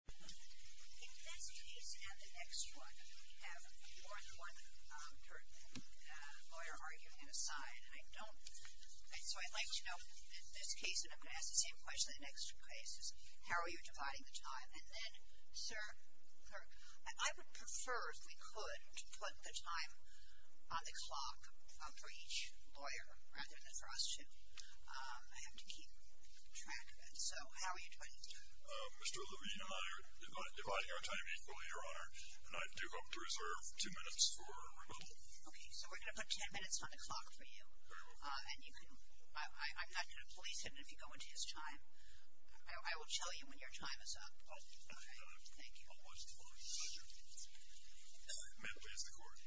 In this case and the next one, we have more than one lawyer arguing on a side. So I'd like to know, in this case, and I'm going to ask the same question in the next two cases, how are you dividing the time? And then, sir, clerk, I would prefer, if we could, to put the time on the clock for each lawyer rather than for us two. I have to keep track of it. So how are you doing? Mr. Levine and I are dividing our time equally, Your Honor. And I do hope to reserve two minutes for rebuttal. Okay. So we're going to put ten minutes on the clock for you. Very well. And I'm not going to police him if you go into his time. I will tell you when your time is up. All right. Thank you. I'll watch the clock. Thank you. May it please the Court.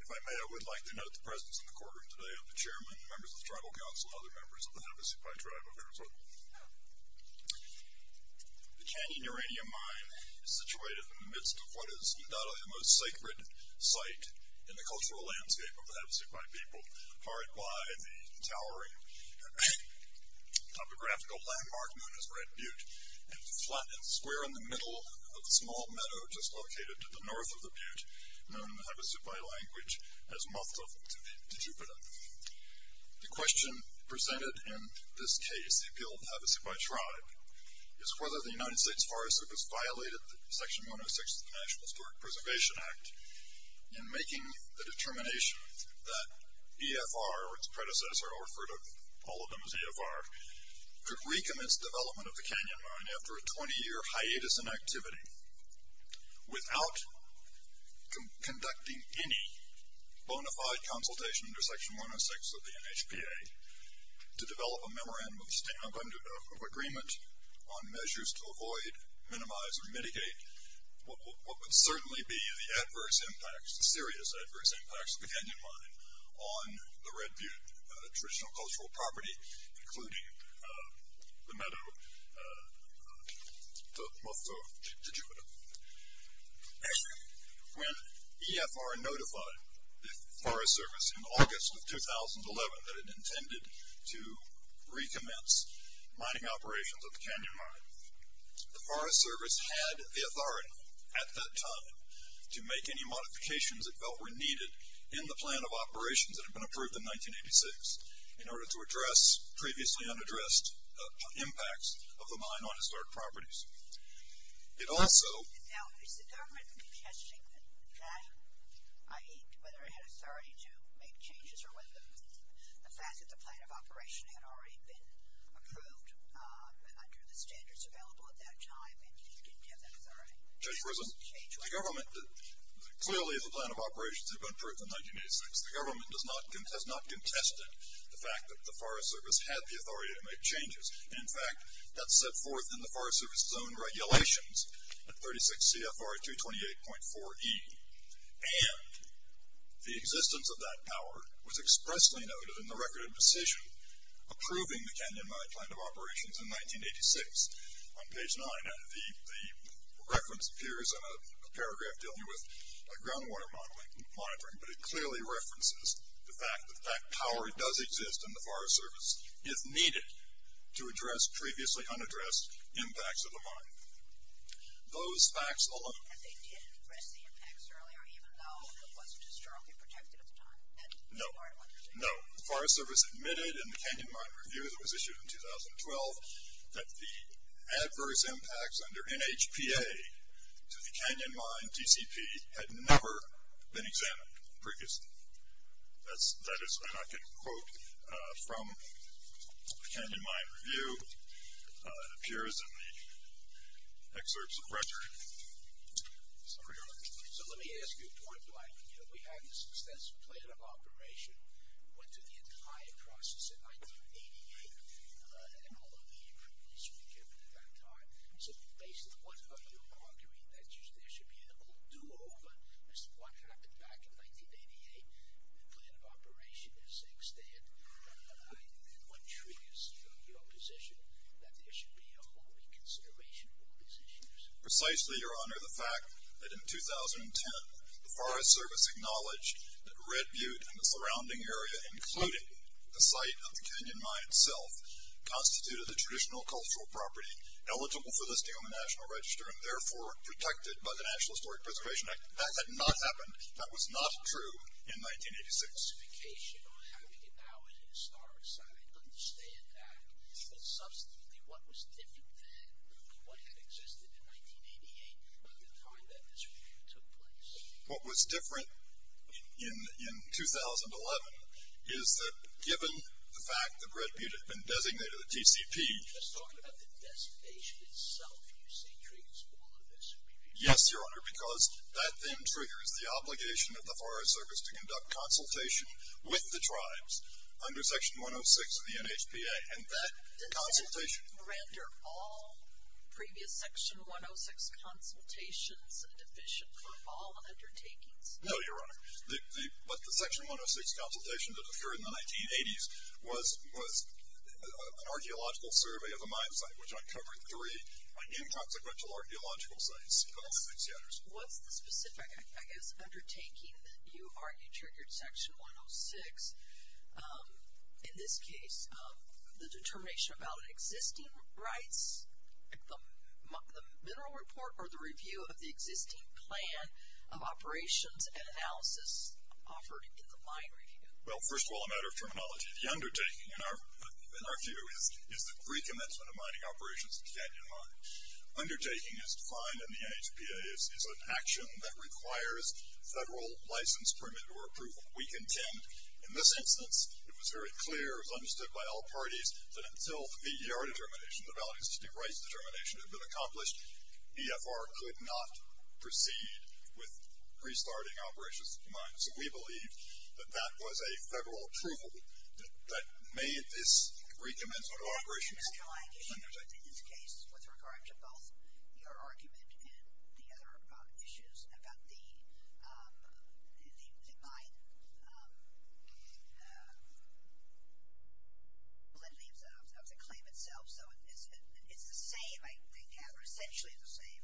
If I may, I would like to note the presence in the courtroom today of the Chairman, members of the Tribal Council, and other members of the Havasupai Tribe of Arizona. The canyon uranium mine is situated in the midst of what is undoubtedly the most sacred site in the cultural landscape of the Havasupai people, hard by the towering topographical landmark known as Red Butte, and flat and square in the middle of a small meadow just located to the north of the Butte, known in the Havasupai language as Mutla to Jupiter. The question presented in this case, the appeal of the Havasupai Tribe, is whether the United States Forest Service violated Section 106 of the National Historic Preservation Act in making the determination that EFR, or its predecessor, I'll refer to all of them as EFR, could recommence development of the canyon mine after a 20-year hiatus in activity without conducting any bona fide consultation under Section 106 of the NHPA to develop a memorandum of agreement on measures to avoid, minimize, or mitigate what would certainly be the adverse impacts, the serious adverse impacts of the canyon mine on the Red Butte traditional cultural property, including the meadow to Jupiter. When EFR notified the Forest Service in August of 2011 that it intended to recommence mining operations of the canyon mine, the Forest Service had the authority at that time to make any modifications that felt were needed in the plan of operations that had been approved in 1986 in order to address previously unaddressed impacts of the mine on historic properties. It also... Now, is the government contesting that, i.e., whether it had authority to make changes or whether the fact that the plan of operation had already been approved under the standards available at that time and you didn't have that authority? Judge Rizzo, clearly the plan of operations had been approved in 1986. The government has not contested the fact that the Forest Service had the authority to make changes. In fact, that's set forth in the Forest Service Zone Regulations at 36 CFR 228.4e. And the existence of that power was expressly noted in the record of decision approving the canyon mine plan of operations in 1986 on page 9. The reference appears in a paragraph dealing with groundwater monitoring, but it clearly references the fact that that power does exist and the Forest Service is needed to address previously unaddressed impacts of the mine. Those facts alone... And they did address the impacts earlier, even though it wasn't as strongly protected at the time? No. The Forest Service admitted in the Canyon Mine Review that was issued in 2012 that the adverse impacts under NHPA to the Canyon Mine DCP had never been examined previously. That is what I can quote from the Canyon Mine Review. It appears in the excerpts of record. So let me ask you a point. We have this extensive plan of operation. It went through the entire process in 1988, and all of the improvements were given at that time. So basically, what are you arguing? That there should be a whole do-over as to what happened back in 1988? The plan of operation is extant. And what triggers your position that there should be a whole reconsideration of these issues? Precisely, Your Honor. I'm not aware of the fact that in 2010, the Forest Service acknowledged that Red Butte and the surrounding area, including the site of the Canyon Mine itself, constituted the traditional cultural property eligible for listing on the National Register and therefore protected by the National Historic Preservation Act. That had not happened. That was not true in 1986. What was different in 2011 is that given the fact that Red Butte had been designated a TCP. Yes, Your Honor, because that then triggers the obligation of the Forest Service to conduct consultations with the tribes under Section 106 of the NHPA. And that consultation... Didn't it render all previous Section 106 consultations deficient for all undertakings? No, Your Honor. But the Section 106 consultations that occurred in the 1980s was an archaeological survey of a mine site, which uncovered three inconsequential archaeological sites. What's the specific, I guess, undertaking that you argue triggered Section 106? In this case, the determination about existing rights, the mineral report, or the review of the existing plan of operations and analysis offered in the mine review? Well, first of all, a matter of terminology. The undertaking, in our view, is the recommencement of mining operations at Canyon Mine. Undertaking, as defined in the NHPA, is an action that requires federal license permit or approval. We contend, in this instance, it was very clear, as understood by all parties, that until the ER determination, the Valley Institute Rights Determination, had been accomplished, EFR could not proceed with restarting operations at Canyon Mine. So we believe that that was a federal approval that made this recommencement of operations... ...issues, in this case, with regard to both your argument and the other issues about the mine... ...of the claim itself. So it's the same, I gather, essentially the same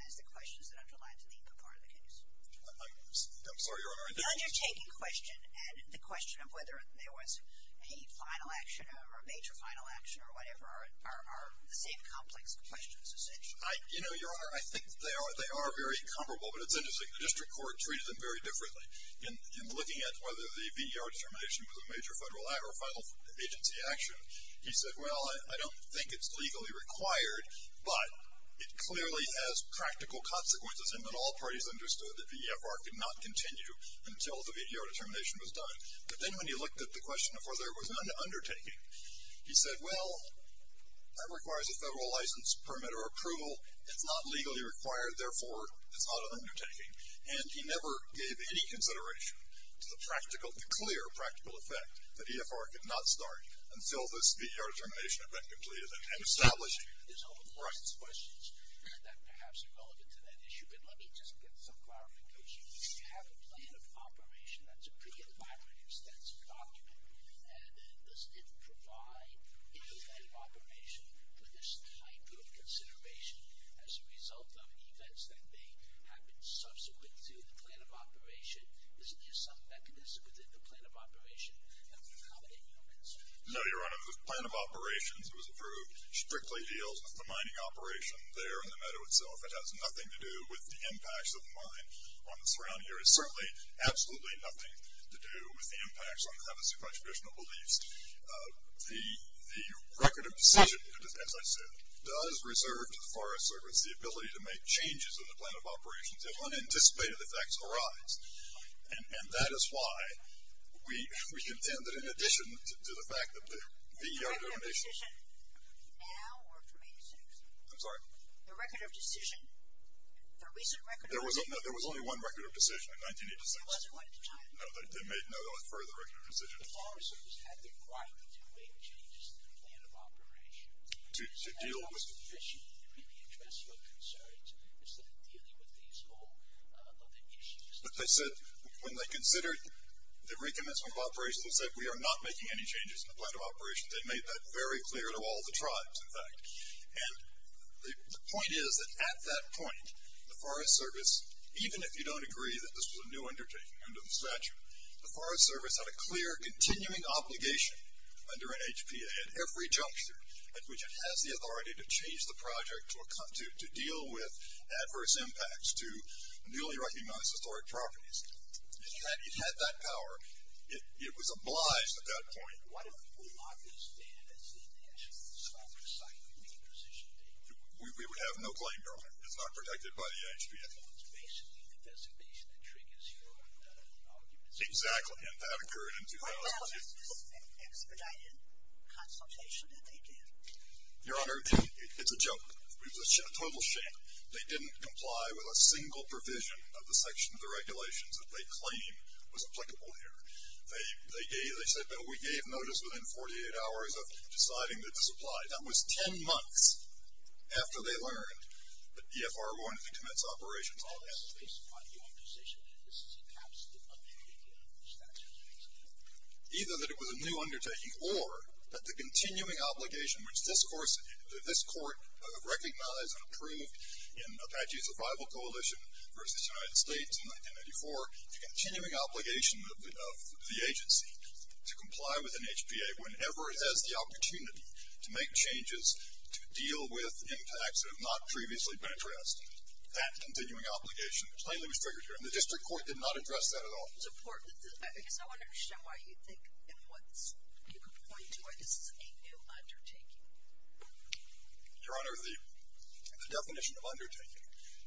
as the questions that underlie the part of the case. I'm sorry, Your Honor. The undertaking question and the question of whether there was a final action or a major final action or whatever are the same complex questions, essentially. You know, Your Honor, I think they are very comparable, but it's interesting. The district court treated them very differently. In looking at whether the VER determination was a major federal act or a final agency action, he said, well, I don't think it's legally required, but it clearly has practical consequences. And then all parties understood that the EFR could not continue until the VER determination was done. But then when he looked at the question of whether there was an undertaking, he said, well, that requires a federal license permit or approval. It's not legally required. Therefore, it's not an undertaking. And he never gave any consideration to the practical, the clear practical effect that EFR could not start until this VER determination had been completed and established. Right. No, Your Honor. It was a plan of operations. It was approved. Strictly deals with the mining operation there in the meadow itself. It has nothing to do with the impacts of the mine on the surrounding area. Certainly, absolutely nothing to do with the impacts on the Havasupai traditional beliefs. The record of decision, as I said, does reserve to the Forest Service the ability to make changes in the plan of operations if unanticipated effects arise. And that is why we contend that in addition to the fact that the EFR determination. The record of decision now or from 1986? I'm sorry. The record of decision, the recent record of decision. No, there was only one record of decision in 1986. There wasn't one at the time. No, they made no further record of decision. The Forest Service had the right to make changes in the plan of operations. To deal with. The record of decision to really address your concerns is that dealing with these small other issues. But they said when they considered the recommencement of operations, they said we are not making any changes in the plan of operations. They made that very clear to all the tribes, in fact. And the point is that at that point, the Forest Service, even if you don't agree that this was a new undertaking under the statute, the Forest Service had a clear continuing obligation under an HPA at every juncture at which it has the authority to change the project to deal with adverse impacts to newly recognized historic properties. It had that power. It was obliged at that point. What if we log this data that's in the National Historic Site and we make a decision? We would have no claim, Your Honor. It's not protected by the HPA. Well, it's basically an investigation that triggers your arguments. Exactly. And that occurred in 2006. Well, is this an expedited consultation that they did? Your Honor, it's a joke. It was a total sham. They didn't comply with a single provision of the section of the regulations that they claimed was applicable here. They said, no, we gave notice within 48 hours of deciding that this applied. That was 10 months after they learned that EFR wanted to commence operations on this. Either that it was a new undertaking or that the continuing obligation, which this court recognized and approved in Apache Survival Coalition versus the United States in 1994, the continuing obligation of the agency to comply with an HPA whenever it has the opportunity to make changes to deal with impacts that have not previously been addressed. That continuing obligation plainly was triggered here, and the district court did not address that at all. It's important because I want to understand why you think and what you could point to as a new undertaking. Your Honor, the definition of undertaking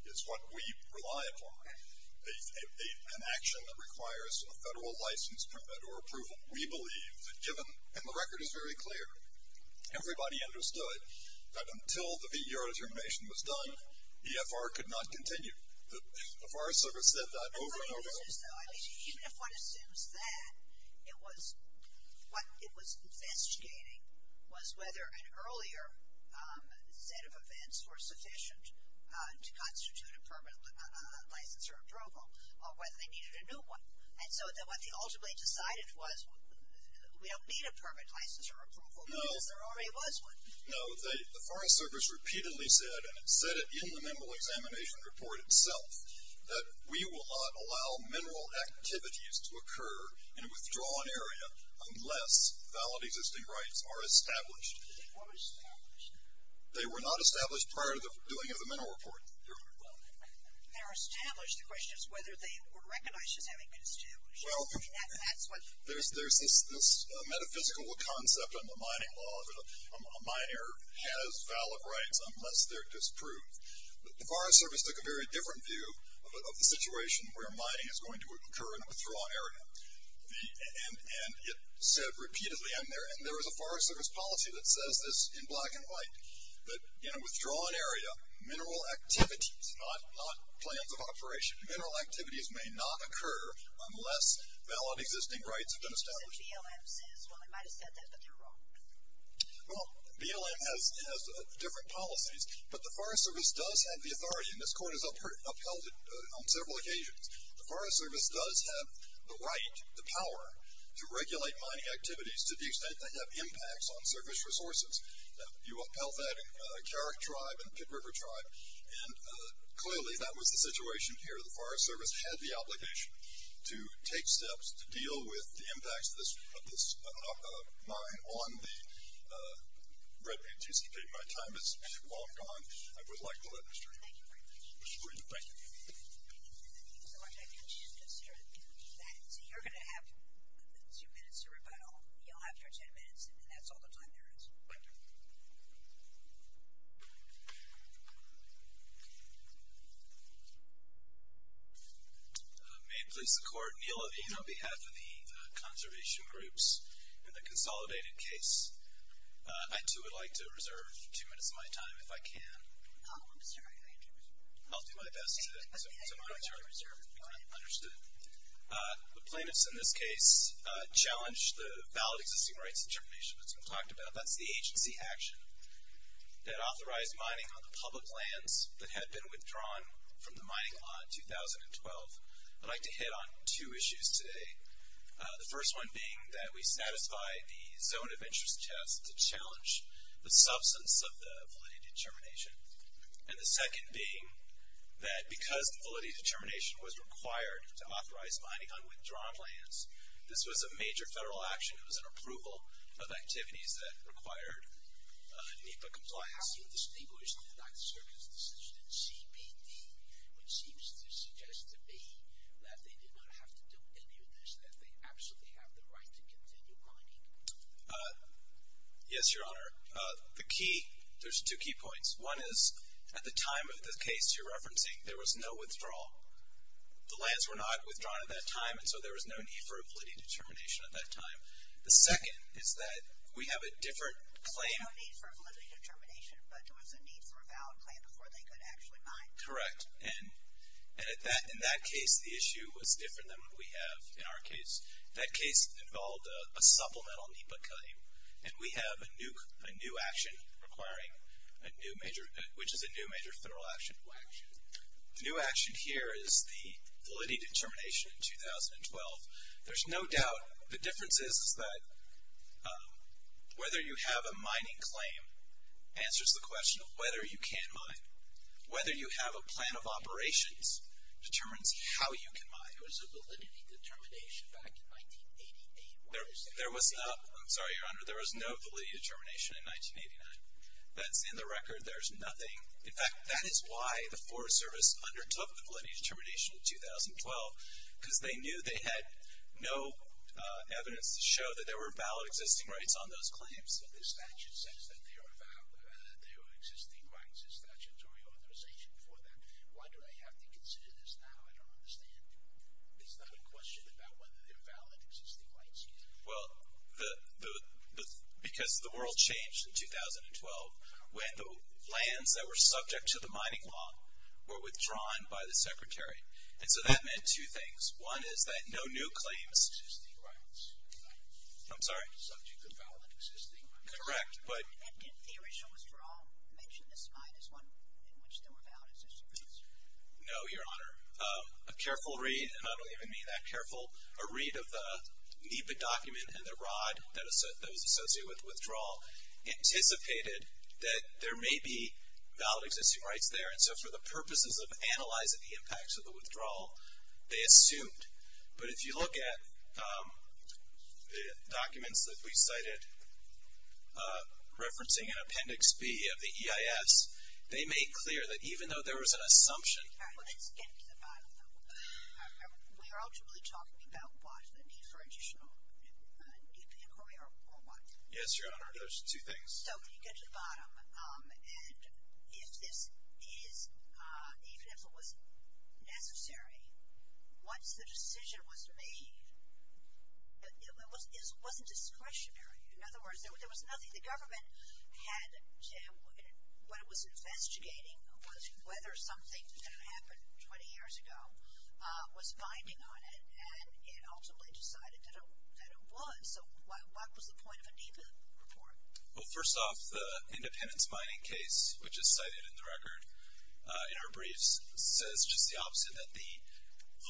is what we rely upon, an action that requires a federal license permit or approval. We believe that given, and the record is very clear, everybody understood that until the V.E.U.R. determination was done, EFR could not continue. The Forest Service said that over and over again. Even if one assumes that, what it was investigating was whether an earlier set of events were sufficient to constitute a permit license or approval or whether they needed a new one. And so what they ultimately decided was we don't need a permit license or approval, because there already was one. No, the Forest Service repeatedly said, and it said it in the mineral examination report itself, that we will not allow mineral activities to occur in a withdrawn area unless valid existing rights are established. They were established. They were not established prior to the doing of the mineral report, Your Honor. They were established. The question is whether they were recognized as having been established. Well, there's this metaphysical concept in the mining law that a miner has valid rights unless they're disproved. The Forest Service took a very different view of the situation where mining is going to occur in a withdrawn area. And it said repeatedly, and there was a Forest Service policy that says this in black and white, that in a withdrawn area, mineral activities, not plans of operation, mineral activities may not occur unless valid existing rights have been established. So BLM says, well, they might have said that, but they're wrong. Well, BLM has different policies, but the Forest Service does have the authority, and this Court has upheld it on several occasions. The Forest Service does have the right, the power, to regulate mining activities to the extent they have impacts on service resources. You upheld that in Carrick Tribe and Pitt River Tribe, and clearly that was the situation here. The Forest Service had the obligation to take steps to deal with the impacts of this mine on the Red Point GCP. My time is well gone. I would like to let Mr. Shabrie. Thank you. Thank you so much. I can just sort of finish that. So you're going to have two minutes to rebuttal. You'll have your ten minutes, and that's all the time there is. Thank you. May it please the Court, Neil Levine on behalf of the conservation groups in the consolidated case. I, too, would like to reserve two minutes of my time if I can. Oh, I'm sorry. I'll do my best to monitor and reserve if we can. Understood. The plaintiffs in this case challenged the valid existing rights determination that's been talked about. That's the agency action that authorized mining on the public lands that had been withdrawn from the mining lot in 2012. I'd like to hit on two issues today, the first one being that we satisfy the zone of interest test to challenge the substance of the validity determination, and the second being that because the validity determination was required to authorize mining on withdrawn lands, this was a major federal action. It was an approval of activities that required NEPA compliance. How do you distinguish the United Circus decision and CPD, which seems to suggest to me that they did not have to do any of this, that they absolutely have the right to continue mining? Yes, Your Honor. The key, there's two key points. One is at the time of the case you're referencing, there was no withdrawal. The lands were not withdrawn at that time, and so there was no need for a validity determination at that time. The second is that we have a different claim. There was no need for a validity determination, but there was a need for a valid claim before they could actually mine. Correct, and in that case the issue was different than what we have in our case. That case involved a supplemental NEPA claim, and we have a new action requiring a new major, which is a new major federal action. What action? The new action here is the validity determination in 2012. There's no doubt the difference is that whether you have a mining claim answers the question of whether you can mine. Whether you have a plan of operations determines how you can mine. There was a validity determination back in 1988. There was no validity determination in 1989. That's in the record. There's nothing. In fact, that is why the Forest Service undertook the validity determination in 2012 because they knew they had no evidence to show that there were valid existing rights on those claims. But the statute says that there are existing rights, a statutory authorization for that. Why do they have to consider this now? I don't understand. It's not a question about whether there are valid existing rights yet. Well, because the world changed in 2012. When the lands that were subject to the mining law were withdrawn by the Secretary. And so that meant two things. One is that no new claims. Existing rights. I'm sorry? Subject to valid existing rights. Correct. But. Theoretical withdrawal. Mention this slide as one in which there were valid existing rights. No, Your Honor. A careful read, and I don't even mean that careful, a read of the NEPA document and the rod that was associated with withdrawal anticipated that there may be valid existing rights there. And so for the purposes of analyzing the impacts of the withdrawal, they assumed. But if you look at the documents that we cited referencing in Appendix B of the EIS, they make clear that even though there was an assumption. All right. Let's get to the bottom of it. We are ultimately talking about why the NEPA inquiry or why. Yes, Your Honor. Those two things. So if you get to the bottom, and if this is, even if it was necessary, once the decision was made, it wasn't discretionary. In other words, there was nothing the government had, what it was investigating was whether something that had happened 20 years ago was binding on it. And it ultimately decided that it was. So what was the point of a NEPA report? Well, first off, the independence mining case, which is cited in the record in our briefs, says just the opposite that the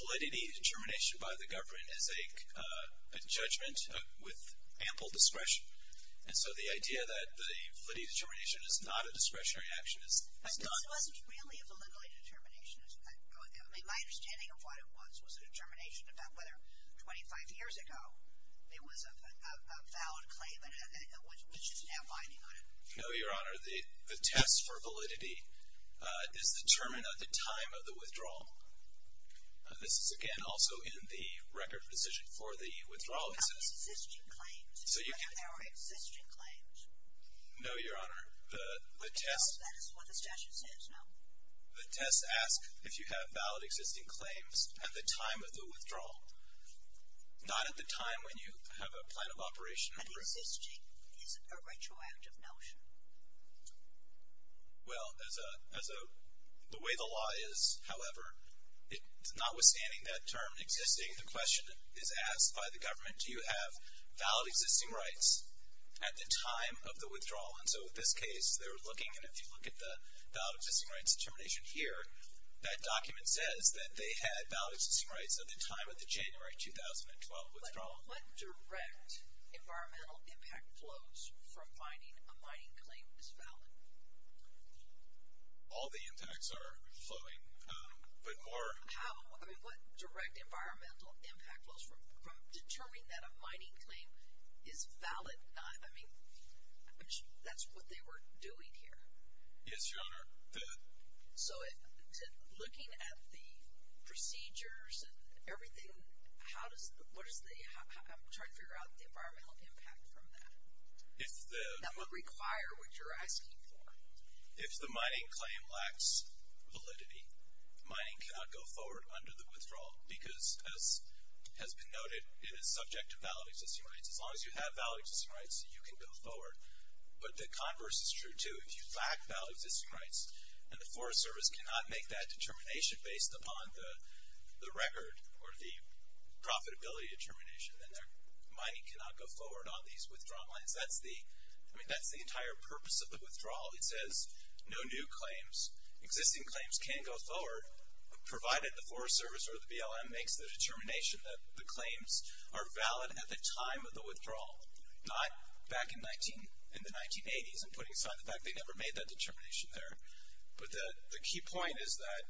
validity determination by the government is a judgment with ample discretion. And so the idea that the validity determination is not a discretionary action is not. It wasn't really a validity determination. My understanding of what it was was a determination about whether 25 years ago it was a valid claim, which is now binding on it. No, Your Honor. The test for validity is determined at the time of the withdrawal. This is, again, also in the record position for the withdrawal. It says. Existing claims. So you can. Existing claims. No, Your Honor. The test. That is what the statute says. No. The test asks if you have valid existing claims at the time of the withdrawal. Not at the time when you have a plan of operation. An existing is a retroactive notion. Well, as the way the law is, however, notwithstanding that term existing, the question is asked by the government, do you have valid existing rights at the time of the withdrawal? And so in this case, they're looking, and if you look at the valid existing rights determination here, that document says that they had valid existing rights at the time of the January 2012 withdrawal. But what direct environmental impact flows from finding a mining claim is valid? All the impacts are flowing, but more. How? I mean, what direct environmental impact flows from determining that a mining claim is valid? I mean, that's what they were doing here. Yes, Your Honor. So looking at the procedures and everything, I'm trying to figure out the environmental impact from that. That would require what you're asking for. If the mining claim lacks validity, mining cannot go forward under the withdrawal because, as has been noted, it is subject to valid existing rights. As long as you have valid existing rights, you can go forward. But the converse is true, too. If you lack valid existing rights and the Forest Service cannot make that determination based upon the record or the profitability determination, then their money cannot go forward on these withdrawal claims. I mean, that's the entire purpose of the withdrawal. It says no new claims, existing claims can't go forward, provided the Forest Service or the BLM makes the determination that the claims are valid at the time of the withdrawal, not back in the 1980s and putting aside the fact they never made that determination there. But the key point is that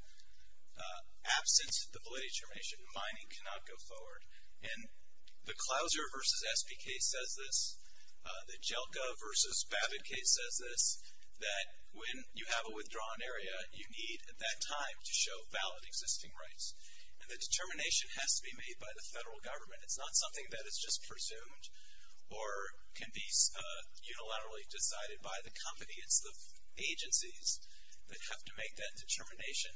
absence of the validity determination, mining cannot go forward. And the Clouser v. SBK says this, the Jelka v. Babbitt case says this, that when you have a withdrawn area, you need at that time to show valid existing rights. And the determination has to be made by the federal government. It's not something that is just presumed or can be unilaterally decided by the company. It's the agencies that have to make that determination.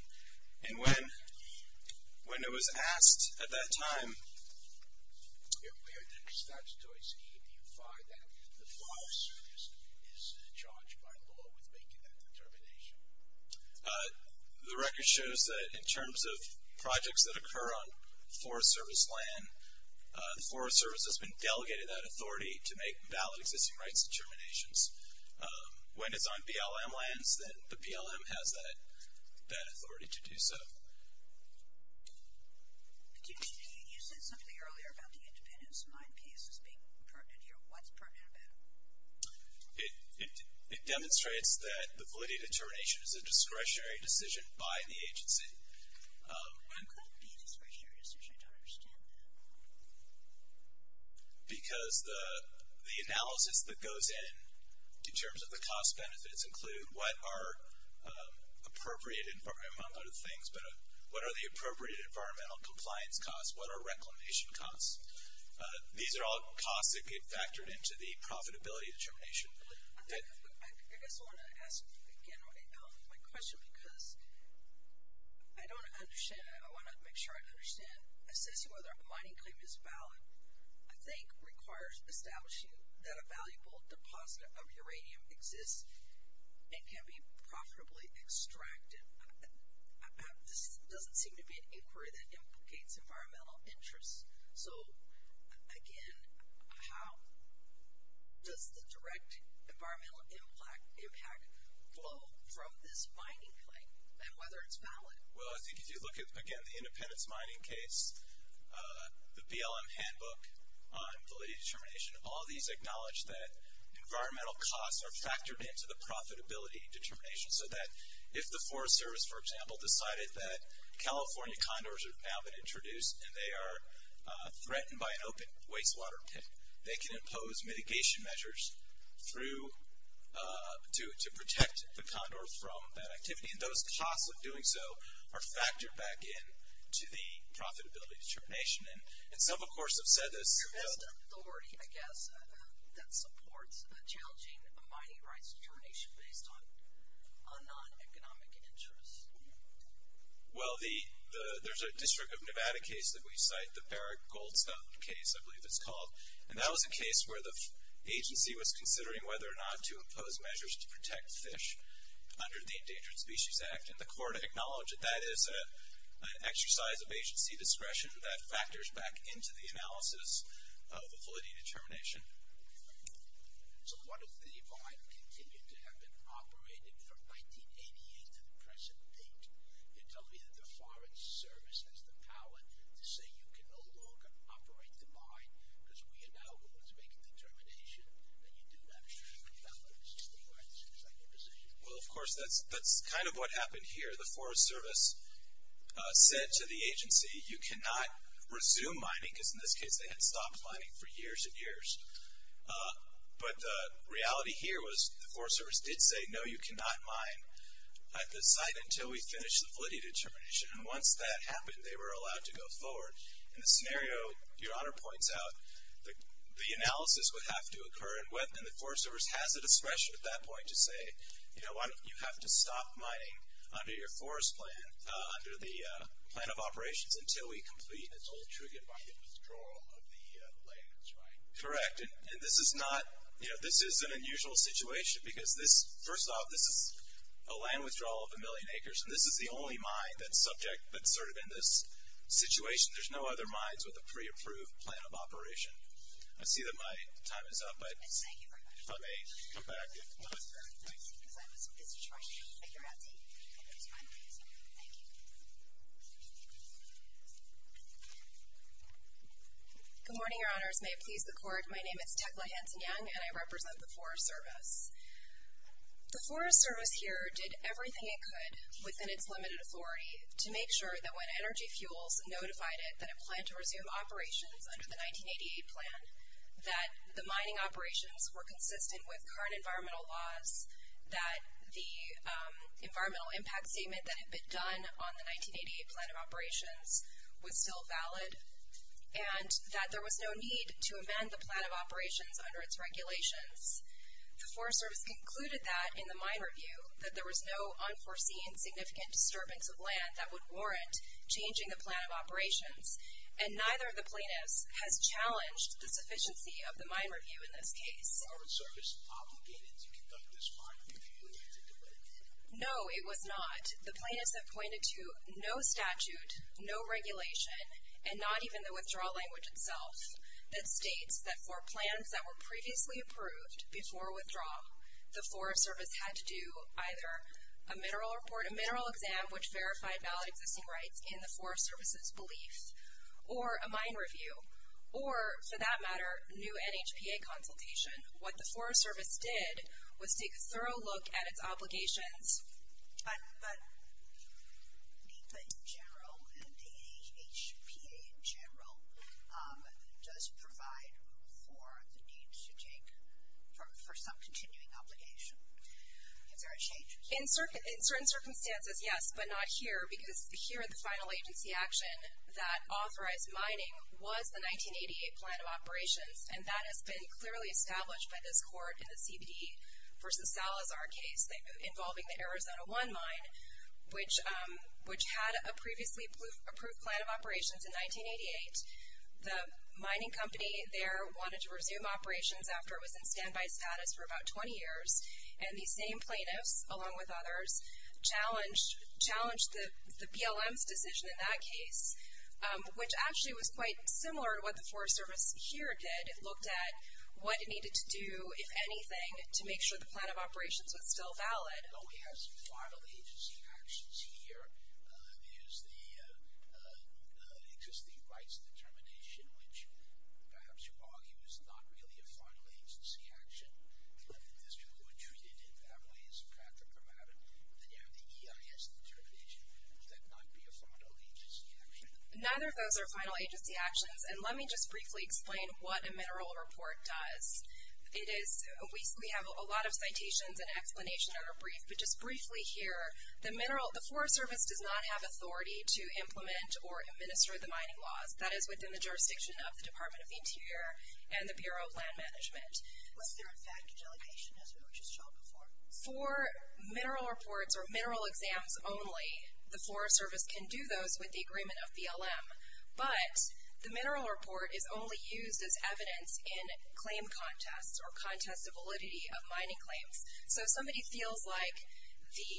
And when it was asked at that time, where did the statutory scheme unify that the Forest Service is charged by law with making that determination? The record shows that in terms of projects that occur on Forest Service land, the Forest Service has been delegated that authority to make valid existing rights determinations. When it's on BLM lands, then the BLM has that authority to do so. You said something earlier about the independence of mine case as being pertinent here. What's pertinent about it? It demonstrates that the validity determination is a discretionary decision by the agency. What could be discretionary decision? I don't understand that at all. Because the analysis that goes in, in terms of the cost benefits, include what are appropriate environmental things, but what are the appropriate environmental compliance costs? What are reclamation costs? These are all costs that get factored into the profitability determination. I guess I want to ask, again, my question, because I want to make sure I understand. Assessing whether a mining claim is valid, I think, requires establishing that a valuable deposit of uranium exists and can be profitably extracted. This doesn't seem to be an inquiry that implicates environmental interests. Again, how does the direct environmental impact flow from this mining claim and whether it's valid? Well, I think if you look at, again, the independence mining case, the BLM handbook on validity determination, all these acknowledge that environmental costs are factored into the profitability determination so that if the Forest Service, for example, decided that California condors have now been introduced and they are threatened by an open wastewater pit, they can impose mitigation measures to protect the condor from that activity. And those costs of doing so are factored back into the profitability determination. And some, of course, have said this. There's an authority, I guess, that supports challenging mining rights determination based on non-economic interests. Well, there's a District of Nevada case that we cite, the Barrick Goldstone case, I believe it's called. And that was a case where the agency was considering whether or not to impose measures to protect fish under the Endangered Species Act. And the court acknowledged that that is an exercise of agency discretion that factors back into the analysis of the validity determination. So what if the mine continued to have been operating from 1988 to the present date? You're telling me that the Forest Service has the power to say, you can no longer operate the mine because we are now able to make a determination that you do not have the validity determination. Is that your position? Well, of course, that's kind of what happened here. The Forest Service said to the agency, you cannot resume mining, because in this case, they had stopped mining for years and years. But the reality here was the Forest Service did say, no, you cannot mine at this site until we finish the validity determination. And once that happened, they were allowed to go forward. In this scenario, Your Honor points out, the analysis would have to occur, and the Forest Service has the discretion at that point to say, you know what, you have to stop mining under your forest plan, under the plan of operations, until we complete it. It's all triggered by the withdrawal of the lands, right? Correct. And this is not, you know, this is an unusual situation, because this, first off, this is a land withdrawal of a million acres, and this is the only mine that's subject, that's sort of in this situation. There's no other mines with a pre-approved plan of operation. Because I was busy trying to figure out, see if I could respond to this. Thank you. Good morning, Your Honors. May it please the Court. My name is Tecla Hanson-Young, and I represent the Forest Service. The Forest Service here did everything it could, within its limited authority, to make sure that when Energy Fuels notified it that it planned to resume operations under the 1988 plan, that the mining operations were consistent with current environmental laws, that the environmental impact statement that had been done on the 1988 plan of operations was still valid, and that there was no need to amend the plan of operations under its regulations. The Forest Service concluded that in the mine review, that there was no unforeseen significant disturbance of land that would warrant changing the plan of operations, and neither of the plaintiffs has challenged the sufficiency of the mine review in this case. Was the Forest Service obligated to conduct this mine review? No, it was not. The plaintiffs have pointed to no statute, no regulation, and not even the withdrawal language itself that states that for plans that were previously approved before withdrawal, the Forest Service had to do either a mineral report, a mineral exam, which verified valid existing rights in the Forest Service's belief, or a mine review, or for that matter, new NHPA consultation. What the Forest Service did was take a thorough look at its obligations. But NEPA in general and the NHPA in general does provide for the need to take for some continuing obligation. Is there a change? In certain circumstances, yes, but not here, because here in the final agency action that authorized mining was the 1988 plan of operations, and that has been clearly established by this court in the CBD v. Salazar case involving the Arizona 1 mine, which had a previously approved plan of operations in 1988. The mining company there wanted to resume operations after it was in standby status for about 20 years, and these same plaintiffs, along with others, challenged the PLM's decision in that case, which actually was quite similar to what the Forest Service here did. It looked at what it needed to do, if anything, to make sure the plan of operations was still valid. We have some final agency actions here. There's the existing rights determination, which perhaps you argue is not really a final agency action. There's people who are treated in that way, as Patrick remarked, and then you have the EIS determination. Would that not be a final agency action? Neither of those are final agency actions, and let me just briefly explain what a mineral report does. We have a lot of citations and explanations that are brief, but just briefly here, the Forest Service does not have authority to implement or administer the mining laws. That is within the jurisdiction of the Department of Interior and the Bureau of Land Management. Was there, in fact, a delegation, as we were just shown before? For mineral reports or mineral exams only, the Forest Service can do those with the agreement of PLM, but the mineral report is only used as evidence in claim contests or contests of validity of mining claims. So if somebody feels like the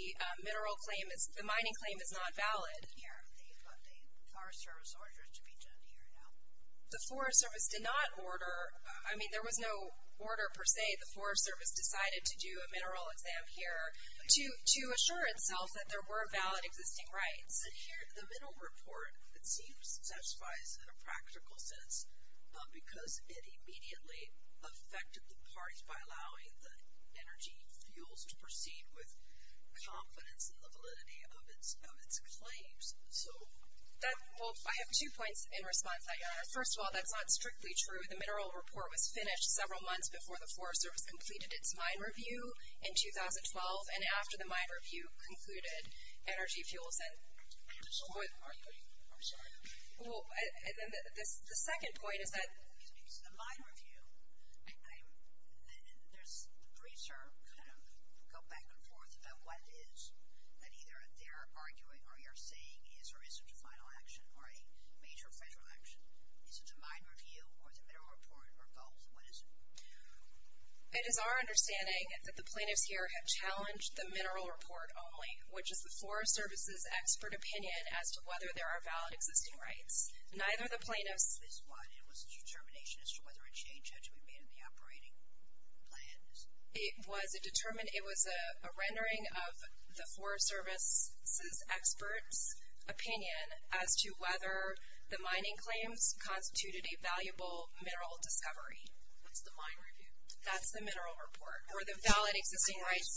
mining claim is not valid, the Forest Service orders to be done here now. The Forest Service did not order, I mean, there was no order per se. The Forest Service decided to do a mineral exam here to assure itself that there were valid existing rights. The mineral report, it seems, satisfies in a practical sense, because it immediately affected the parties by allowing the energy fuels to proceed with confidence in the validity of its claims. So. Well, I have two points in response to that, Your Honor. First of all, that's not strictly true. The mineral report was finished several months before the Forest Service completed its mine review in 2012, and after the mine review concluded, energy fuels and. I'm sorry. The second point is that. The mine review, the briefs go back and forth about what it is that either they're arguing or you're saying is or isn't a final action or a major federal action. Is it the mine review or the mineral report or both? What is it? It is our understanding that the plaintiffs here have challenged the mineral report only, which is the Forest Service's expert opinion as to whether there are valid existing rights. Neither the plaintiffs. It was a determination as to whether a change had to be made in the operating plans. It was a rendering of the Forest Service's expert's opinion as to whether the mining claims constituted a valuable mineral discovery. What's the mine review? That's the mineral report. Or the valid existing rights.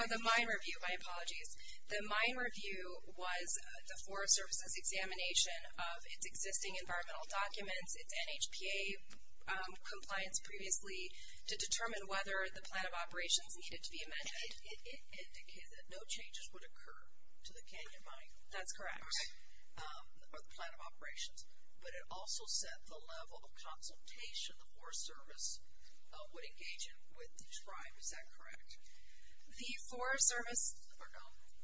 Or the mine review, my apologies. The mine review was the Forest Service's examination of its existing environmental documents, its NHPA compliance previously to determine whether the plan of operations needed to be amended. It indicated that no changes would occur to the canyon mine. That's correct. Or the plan of operations. But it also said the level of consultation the Forest Service would engage in with the tribe. Is that correct? The Forest Service.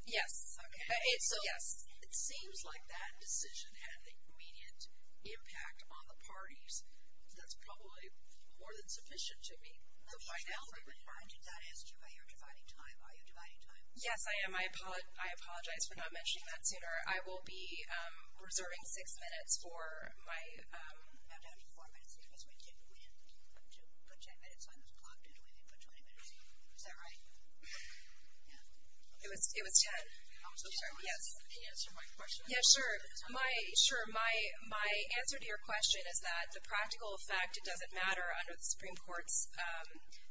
Yes. Okay. Yes. It seems like that decision had an immediate impact on the parties. That's probably more than sufficient to me. Let me ask you about your dividing time. Are you dividing time? Yes, I am. I apologize for not mentioning that sooner. I will be reserving six minutes for my. I'm down to four minutes because we didn't put ten minutes on the clock, did we? We didn't put 20 minutes in. Is that right? Yeah. It was ten. I'm so sorry. Yes. Can you answer my question? Yeah, sure. Sure. My answer to your question is that the practical effect doesn't matter under the Supreme Court's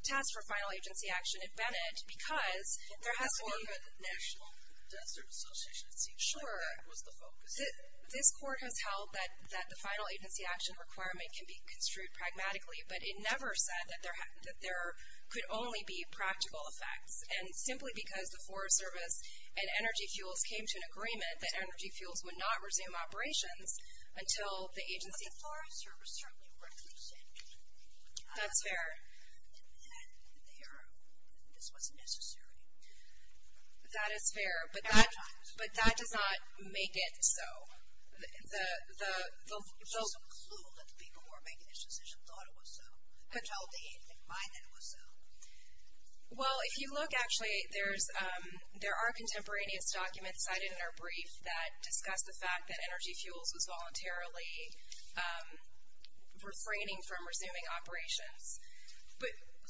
task for final agency action at Bennett because there has to be. Or the National Desert Association. It seems like that was the focus. This court has held that the final agency action requirement can be construed pragmatically, but it never said that there could only be practical effects. And simply because the Forest Service and Energy Fuels came to an agreement that Energy Fuels would not resume operations until the agency. But the Forest Service certainly refused it. That's fair. And this wasn't necessary. That is fair. Every time. But that does not make it so. There's no clue that the people who were making this decision thought it was so. I don't see anything behind that it was so. Well, if you look, actually, there are contemporaneous documents cited in our brief that discuss the fact that Energy Fuels was voluntarily refraining from resuming operations.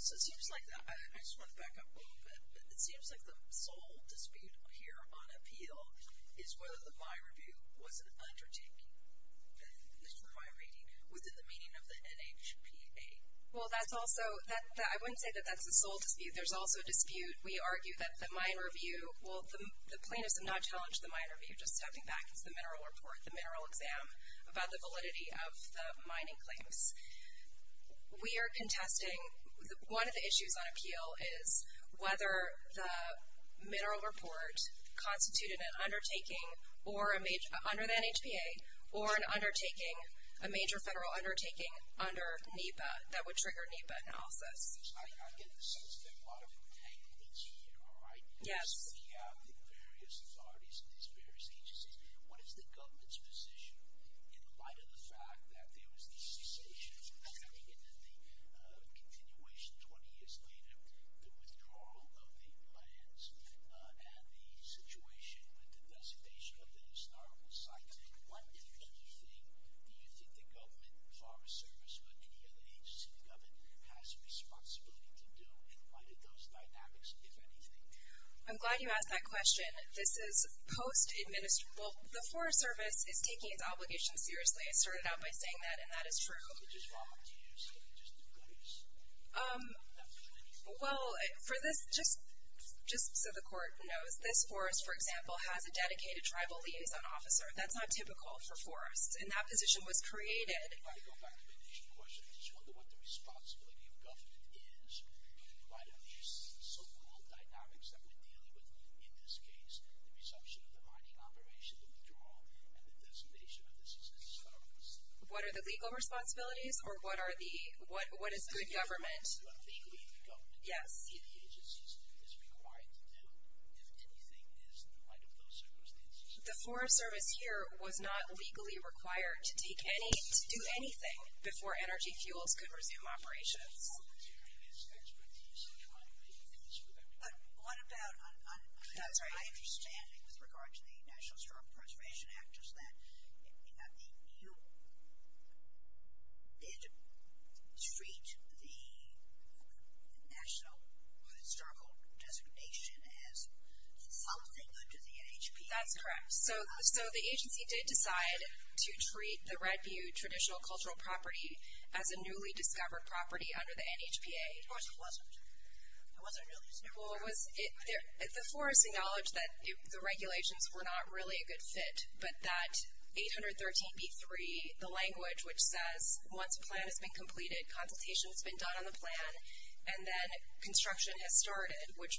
So it seems like that. I just want to back up a little bit. It seems like the sole dispute here on appeal is whether the mine review was an undertaking, this mine rating, within the meaning of the NHPA. Well, I wouldn't say that that's the sole dispute. There's also a dispute. We argue that the mine review, well, the plaintiffs have not challenged the mine review. Just stepping back is the mineral report, the mineral exam, about the validity of the mining claims. We are contesting. One of the issues on appeal is whether the mineral report constituted an undertaking under the NHPA or an undertaking, a major federal undertaking under NEPA that would trigger NEPA analysis. I get the sense that a lot of entanglements here, all right? Yes. Because we have the various authorities and these various agencies. What is the government's position in light of the fact that there was the cessation of mining and the continuation 20 years later, the withdrawal of the lands and the situation with the designation of the historical sites? What do you think the government, Forest Service, or any other agency in government has a responsibility to do in light of those dynamics, if anything? I'm glad you asked that question. This is post-administration. Well, the Forest Service is taking its obligations seriously. I started out by saying that, and that is true. What is wrong with using just the goodies? Well, for this, just so the court knows, this forest, for example, has a dedicated tribal liaison officer. That's not typical for forests, and that position was created. I want to go back to the initial question. I just wonder what the responsibility of government is in light of these so-called dynamics that we're dealing with, in this case, the resumption of the mining operation, the withdrawal, and the designation of this as a service. What are the legal responsibilities, or what is good government? What legally the government, the agencies, is required to do, if anything, is in light of those circumstances. The Forest Service here was not legally required to do anything before energy fuels could resume operations. But what about my understanding, with regard to the National Historical Preservation Act, is that the NU did treat the National Historical Designation as something under the NHPA. That's correct. So the agency did decide to treat the Red Butte Traditional Cultural Property as a newly discovered property under the NHPA. Of course it wasn't. It wasn't a newly discovered property. Well, the forest acknowledged that the regulations were not really a good fit, but that 813b3, the language which says once a plan has been completed, consultation has been done on the plan, and then construction has started, which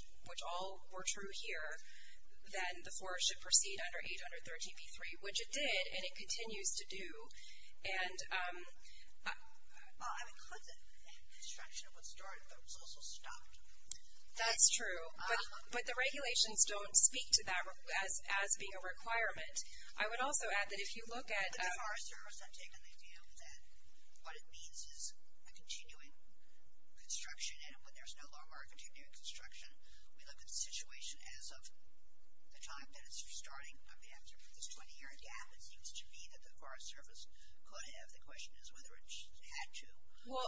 all were true here, then the forest should proceed under 813b3, which it did, and it continues to do. Well, I would put that construction was started, but it was also stopped. That's true. But the regulations don't speak to that as being a requirement. I would also add that if you look at... The Forest Service had taken the view that what it means is a continuing construction, and when there's no longer a continuing construction, we look at the situation as of the time that it's starting. After this 20-year gap, it seems to me that the Forest Service could have... The question is whether it had to... Well,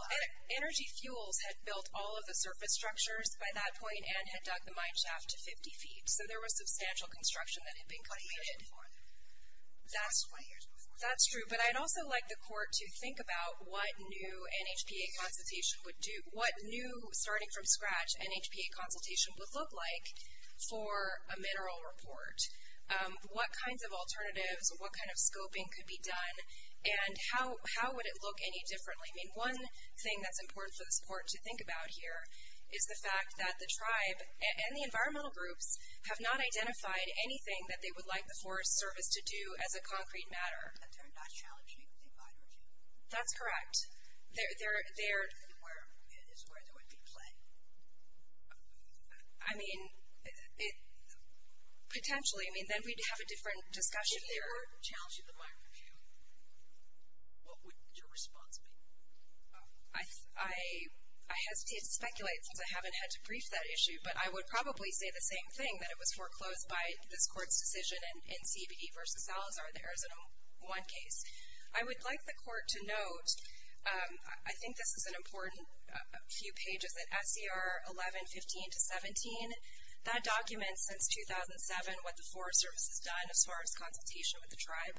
Energy Fuels had built all of the surface structures by that point and had dug the mine shaft to 50 feet, so there was substantial construction that had been completed... 20 years before that. That's true. But I'd also like the Court to think about what new NHPA consultation would do. What new, starting from scratch, NHPA consultation would look like for a mineral report. What kinds of alternatives, what kind of scoping could be done, and how would it look any differently? I mean, one thing that's important for the Court to think about here is the fact that the tribe and the environmental groups have not identified anything that they would like the Forest Service to do as a concrete matter. That they're not challenging the environment. That's correct. They're... It is where there would be play. I mean, it... Potentially... I mean, then we'd have a different discussion there. If they were challenging the mine shaft, what would your response be? I hesitate to speculate since I haven't had to brief that issue, but I would probably say the same thing, that it was foreclosed by this Court's decision in CBD versus Salazar, I would like the Court to note... I think this is an important few pages, that SCR 1115-17, that documents since 2007 what the Forest Service has done as far as consultation with the tribe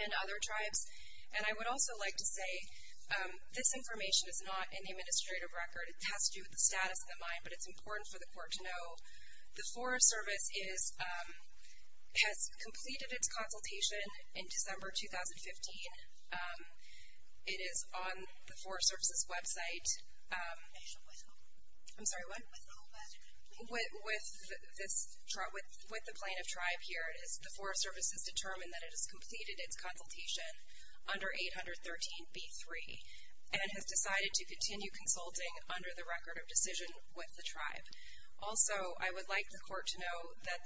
and other tribes. And I would also like to say this information is not in the administrative record. It has to do with the status of the mine, but it's important for the Court to know. The Forest Service has completed its consultation in December 2015. It is on the Forest Service's website. I'm sorry, what? With the plan of tribe here. The Forest Service has determined that it has completed its consultation under 813b-3 and has decided to continue consulting under the record of decision with the tribe. Also, I would like the Court to know that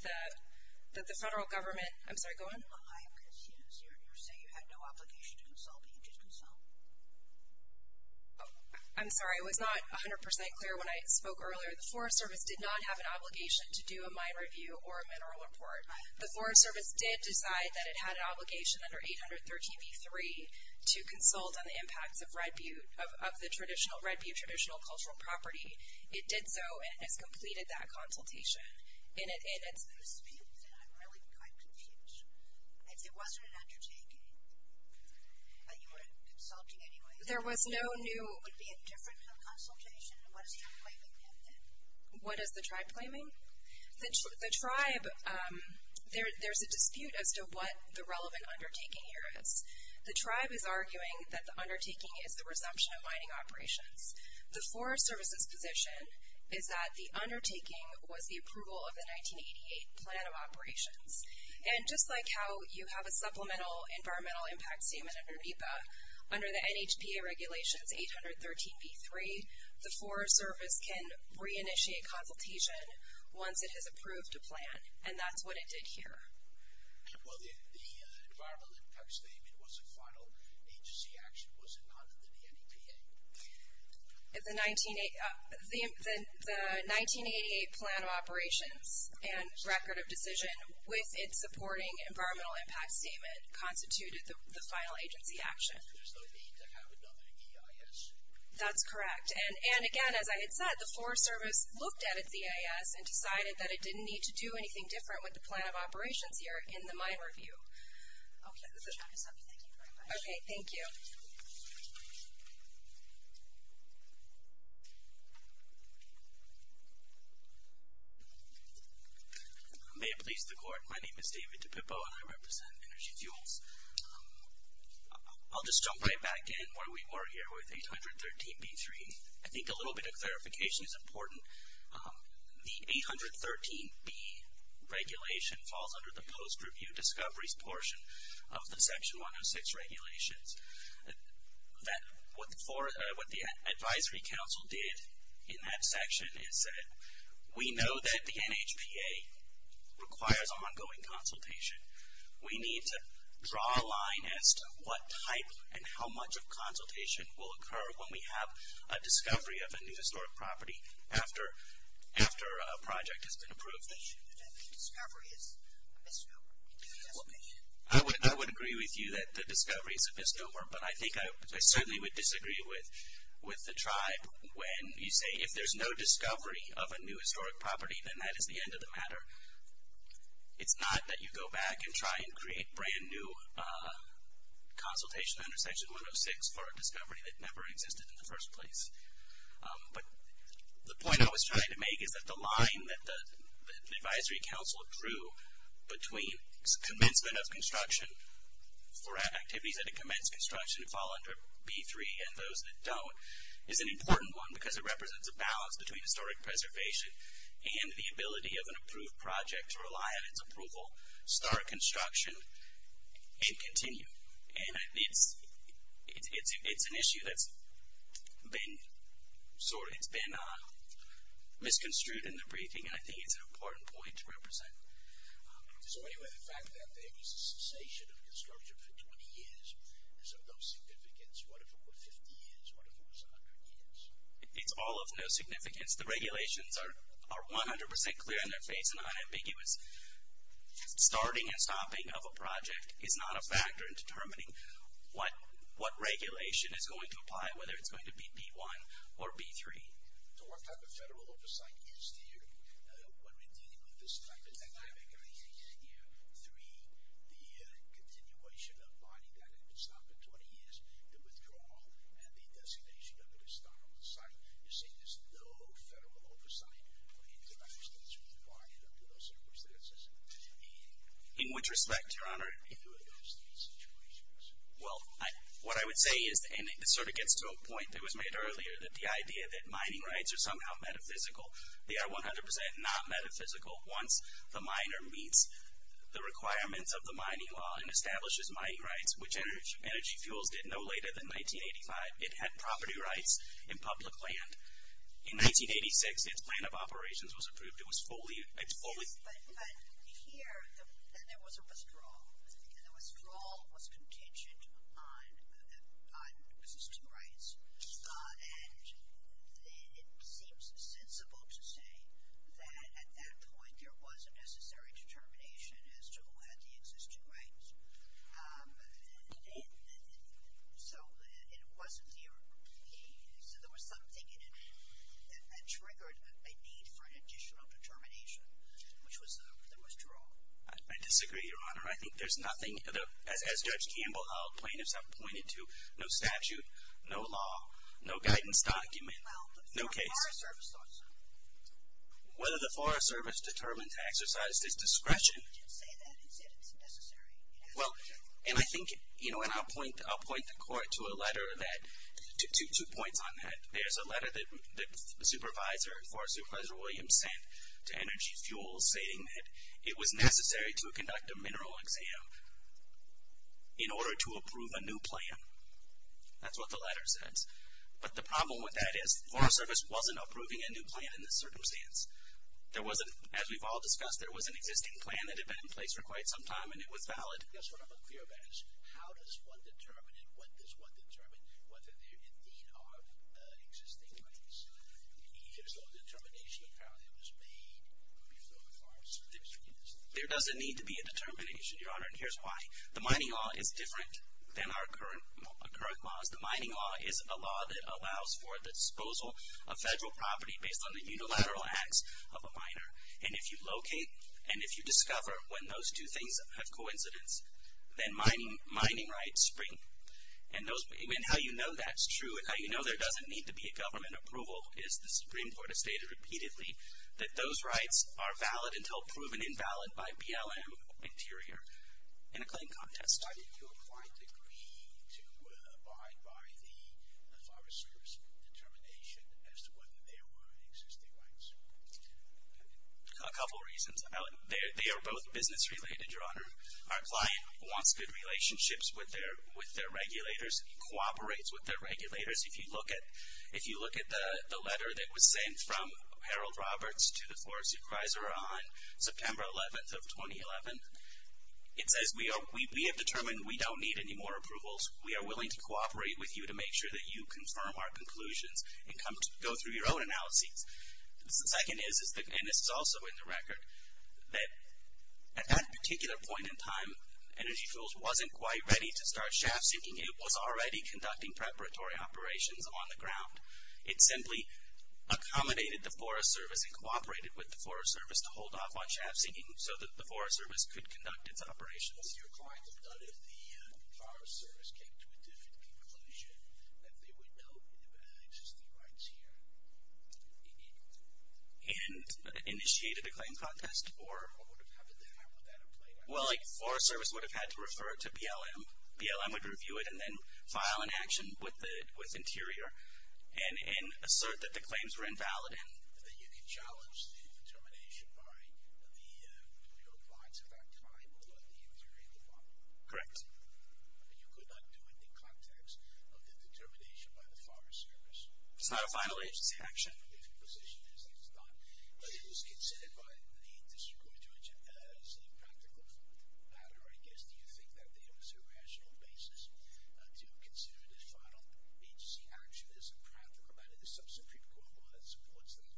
the federal government... I'm sorry, go on. You say you had no obligation to consult, but you did consult? I'm sorry, it was not 100% clear when I spoke earlier. The Forest Service did not have an obligation to do a mine review or a mineral report. The Forest Service did decide that it had an obligation under 813b-3 to consult on the impacts of the Red Butte traditional cultural property. It did so and has completed that consultation in its... I'm confused. If it wasn't an undertaking, but you were consulting anyway... There was no new... Would it be a different consultation? What is the tribe claiming then? What is the tribe claiming? The tribe... There's a dispute as to what the relevant undertaking here is. The tribe is arguing that the undertaking is the resumption of mining operations. The Forest Service's position is that the undertaking was the approval of the 1988 Plan of Operations. And just like how you have a supplemental environmental impact statement under NEPA, under the NHPA Regulations 813b-3, the Forest Service can re-initiate consultation once it has approved a plan, and that's what it did here. Well, the environmental impact statement was a final agency action. Was it not under the NEPA? The 1988 Plan of Operations and Record of Decision, with its supporting environmental impact statement, constituted the final agency action. There's no need to have it under EIS? That's correct. And again, as I had said, the Forest Service looked at its EIS and decided that it didn't need to do anything different with the Plan of Operations here in the mine review. Okay. Thank you very much. Okay. Thank you. May it please the Court, my name is David DiPippo, and I represent Energy Fuels. I'll just jump right back in where we were here with 813b-3. I think a little bit of clarification is important. The 813b regulation falls under the post-review discoveries portion of the Section 106 regulations. What the Advisory Council did in that section is said, we know that the NHPA requires ongoing consultation. We need to draw a line as to what type and how much of consultation will occur when we have a discovery of a new historic property after a project has been approved. The discovery is abysmal. I would agree with you that the discovery is abysmal, but I think I certainly would disagree with the tribe when you say if there's no discovery of a new historic property, then that is the end of the matter. It's not that you go back and try and create brand new consultation under Section 106 for a discovery that never existed in the first place. But the point I was trying to make is that the line that the Advisory Council drew between commencement of construction for activities that commence construction and fall under b-3 and those that don't is an important one because it represents a balance between historic preservation and the ability of an approved project to rely on its approval, start construction, and continue. And it's an issue that's been misconstrued in the briefing, and I think it's an important point to represent. So anyway, the fact that there was a cessation of construction for 20 years is of no significance. What if it were 50 years? What if it was 100 years? It's all of no significance. The regulations are 100 percent clear in their face and unambiguous. Starting and stopping of a project is not a factor in determining what regulation is going to apply, whether it's going to be b-1 or b-3. So what type of federal oversight is there when we're dealing with this type of dynamic? Are you saying that year three, the continuation of mining that had to stop for 20 years, the withdrawal, and the designation of it as stop-and-start? You're saying there's no federal oversight for international requirements under those circumstances? In which respect, Your Honor? In either of those three situations. Well, what I would say is, and this sort of gets to a point that was made earlier, that the idea that mining rights are somehow metaphysical, they are 100 percent not metaphysical once the miner meets the requirements of the mining law and establishes mining rights, which energy fuels did no later than 1985. It had property rights in public land. In 1986, its plan of operations was approved. It was fully- But here, there was a withdrawal. And the withdrawal was contingent on existing rights. And it seems sensible to say that at that point there was a necessary determination as to who had the existing rights. So there was something in it that triggered a need for an additional determination, which was the withdrawal. I disagree, Your Honor. I think there's nothing, as Judge Campbell pointed to, no statute, no law, no guidance document, no case. Well, the Forest Service thought so. Whether the Forest Service determined to exercise this discretion- Well, and I think, you know, and I'll point the Court to a letter that, two points on that. There's a letter that the supervisor, Forest Supervisor Williams, sent to Energy Fuels, saying that it was necessary to conduct a mineral exam in order to approve a new plan. That's what the letter says. But the problem with that is the Forest Service wasn't approving a new plan in this circumstance. There wasn't, as we've all discussed, there was an existing plan that had been in place for quite some time and it was valid. That's what I'm unclear about is how does one determine and what does one determine whether there indeed are existing rights? There's no determination of how it was made before the Forest Service did this. There doesn't need to be a determination, Your Honor, and here's why. The mining law is different than our current laws. The mining law is a law that allows for the disposal of federal property based on the unilateral acts of a miner. And if you locate and if you discover when those two things have coincidence, then mining rights spring. And how you know that's true and how you know there doesn't need to be a government approval is the Supreme Court has stated repeatedly that those rights are valid until proven invalid by BLM Interior in a claim contest. Why did your client agree to abide by the Forest Service determination as to whether there were existing rights? A couple reasons. They are both business related, Your Honor. Our client wants good relationships with their regulators and cooperates with their regulators. If you look at the letter that was sent from Harold Roberts to the Forest Supervisor on September 11th of 2011, it says, We have determined we don't need any more approvals. We are willing to cooperate with you to make sure that you confirm our conclusions and go through your own analyses. The second is, and this is also in the record, that at that particular point in time, Energy Fuels wasn't quite ready to start shaft sinking. It was already conducting preparatory operations on the ground. It simply accommodated the Forest Service and cooperated with the Forest Service to hold off on shaft sinking so that the Forest Service could conduct its operations. What would your client have done if the Forest Service came to a different conclusion that they would know that there were existing rights here? And initiated a claim contest? Or what would have happened then? Well, the Forest Service would have had to refer to BLM. BLM would review it and then file an action with Interior. And assert that the claims were invalid. And that you could challenge the determination by your clients at that time or the Interior Department? Correct. But you could not do it in the context of the determination by the Forest Service? It's not a final agency action. But it was considered by the District Attorney as a practical matter, I guess. Do you think that there is a rational basis to consider this final agency action as a practical matter to substitute for a law that supports them?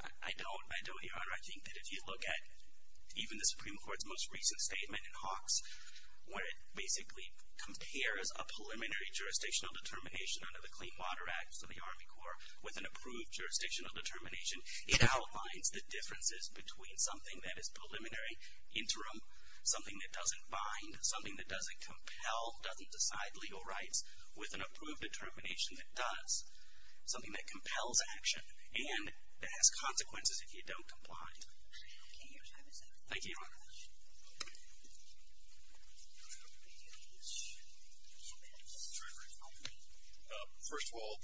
I don't, Your Honor. I think that if you look at even the Supreme Court's most recent statement in Hawks, where it basically compares a preliminary jurisdictional determination under the Clean Water Act, so the Army Corps, with an approved jurisdictional determination, it outlines the differences between something that is preliminary, interim, something that doesn't bind, something that doesn't compel, doesn't decide legal rights, with an approved determination that does. Something that compels action. And that has consequences if you don't comply. Okay. Your time is up. Thank you, Your Honor. First of all,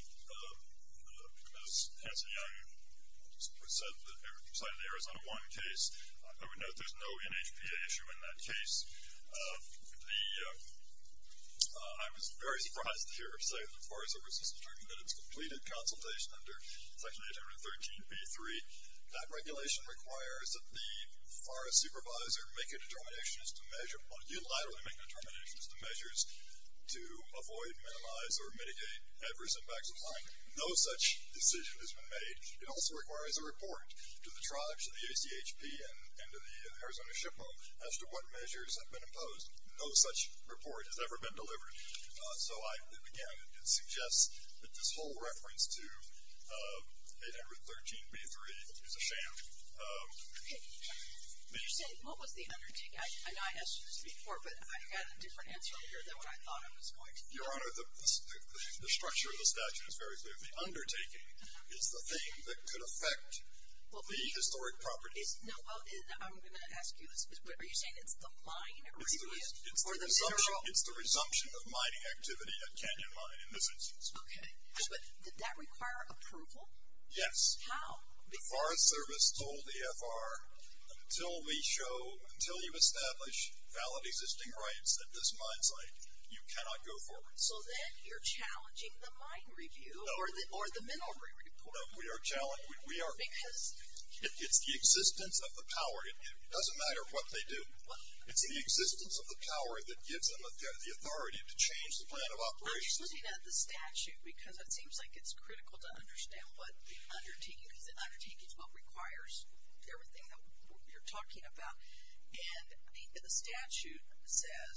as Hanson Young said, in the Arizona 1 case, I would note there's no NHPA issue in that case. I was very surprised to hear her say that the Forest Service has determined that it's completed consultation under Section 813b-3. That regulation requires that the forest supervisor make a determination as to measure or unilaterally make determinations to measures to avoid, minimize, or mitigate adverse impacts of climate. No such decision has been made. It also requires a report to the tribes, to the ACHP, and to the Arizona SHPO, as to what measures have been imposed. No such report has ever been delivered. So, again, it suggests that this whole reference to 813b-3 is a sham. Okay. You said, what was the undertaking? I know I asked you this before, but I had a different answer here than what I thought I was going to get. Your Honor, the structure of the statute is very clear. The undertaking is the thing that could affect the historic property. No, I'm going to ask you this. Are you saying it's the mine review? It's the resumption of mining activity at Canyon Mine in this instance. Okay. Did that require approval? Yes. How? The Forest Service told EFR, until we show, until you establish valid existing rights at this mine site, you cannot go forward. So, then you're challenging the mine review or the mineral review. No, we are challenging. Because? It's the existence of the power. It doesn't matter what they do. It's the existence of the power that gives them the authority to change the plan of operations. Well, you're looking at the statute, because it seems like it's critical to understand what the undertaking is. The undertaking is what requires everything that you're talking about. And the statute says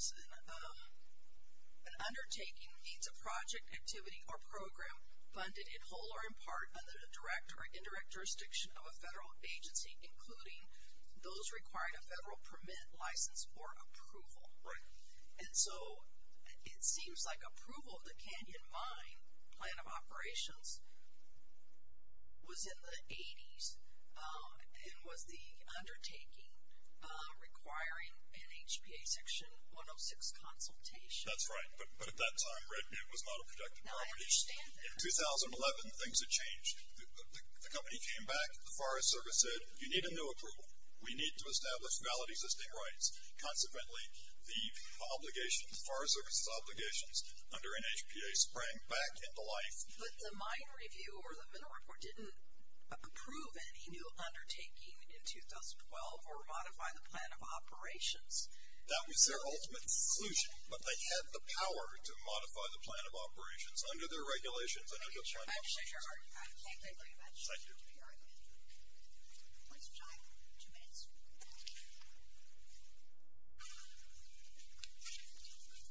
an undertaking needs a project, activity, or program funded in whole or in part under the direct or indirect jurisdiction of a federal agency, including those requiring a federal permit, license, or approval. Right. And so, it seems like approval of the Canyon Mine plan of operations was in the 80s and was the undertaking requiring NHPA section 106 consultation. That's right. But at that time, it was not a protected property. Now, I understand that. In 2011, things had changed. The company came back. The Forest Service said, you need a new approval. We need to establish valid existing rights. Consequently, the obligations, the Forest Service's obligations under NHPA sprang back into life. But the mine review or the mineral report didn't approve any new undertaking in 2012 or modify the plan of operations. That was their ultimate solution. But they had the power to modify the plan of operations under their regulations and under the plan of operations. I'm sorry. I can't hear you. I can't hear you. Please chime. Two minutes.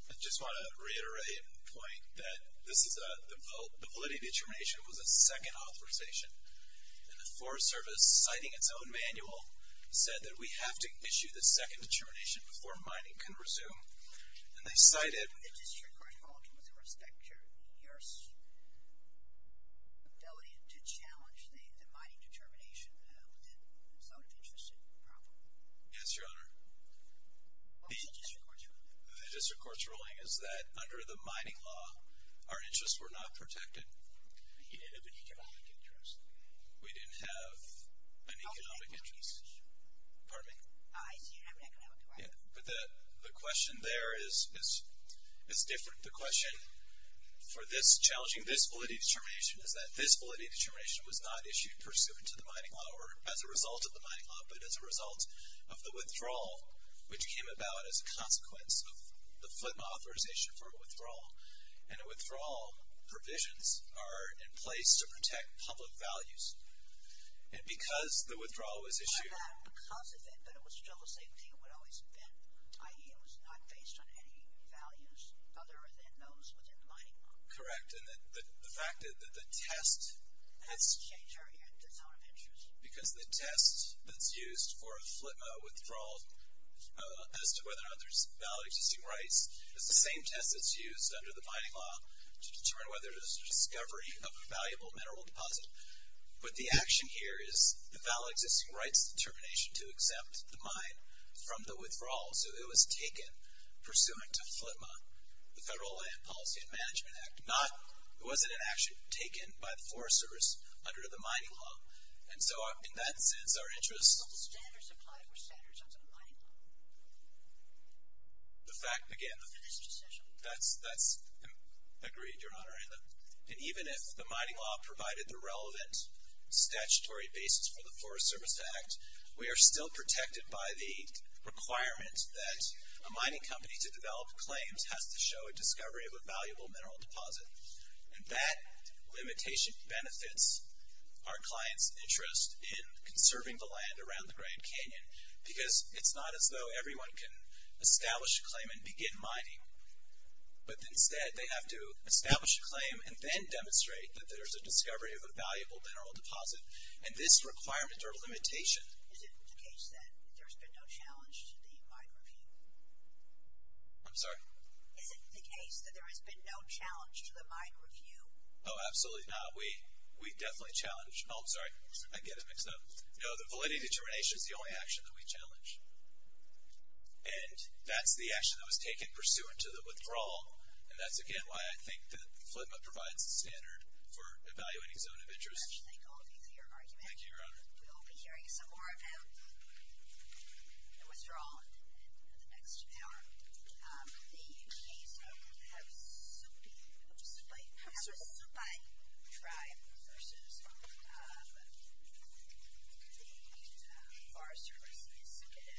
I just want to reiterate a point that this is a, the validity determination was a second authorization. And the Forest Service, citing its own manual, said that we have to issue the second determination before mining can resume. And they cited. In the district court ruling, with respect to your ability to challenge the mining determination, that sounded interesting and proper. Yes, Your Honor. What was the district court's ruling? The district court's ruling is that under the mining law, our interests were not protected. But you didn't have an economic interest. We didn't have an economic interest. Pardon me? I see. You didn't have an economic interest. But the question there is different. The question for this challenging, this validity determination, is that this validity determination was not issued pursuant to the mining law or as a result of the mining law, but as a result of the withdrawal, which came about as a consequence of the Flint authorization for withdrawal. And the withdrawal provisions are in place to protect public values. And because the withdrawal was issued. Because of it, but it was still the same thing it would always have been, i.e. it was not based on any values other than those within the mining law. Correct. And the fact that the test. I haven't changed it yet. That's how it appears. Because the test that's used for a withdrawal as to whether or not there's valid existing rights is the same test that's used under the mining law to determine whether there's a discovery of a valuable mineral deposit. But the action here is the valid existing rights determination to accept the mine from the withdrawal. So it was taken pursuant to FLTMA, the Federal Land Policy and Management Act. It wasn't an action taken by the forest service under the mining law. And so in that sense, our interest. But the standards applied were standards under the mining law. The fact, again, that's agreed, Your Honor. And even if the mining law provided the relevant statutory basis for the Forest Service Act, we are still protected by the requirement that a mining company to develop claims has to show a discovery of a valuable mineral deposit. And that limitation benefits our clients' interest in conserving the land around the Grand Canyon because it's not as though everyone can establish a claim and begin mining. But instead, they have to establish a claim and then demonstrate that there's a discovery of a valuable mineral deposit. And this requirement or limitation. Is it the case that there's been no challenge to the mine review? I'm sorry? Is it the case that there has been no challenge to the mine review? Oh, absolutely not. We definitely challenge. Oh, I'm sorry. I get it mixed up. No, the validity determination is the only action that we challenge. And that's the action that was taken pursuant to the withdrawal. And that's, again, why I think that FLTMA provides the standard for evaluating zone of interest. I thank all of you for your argument. Thank you, Your Honor. We'll be hearing some more about the withdrawal in the next hour. The Kaysak have a Supai tribe versus the Forest Service.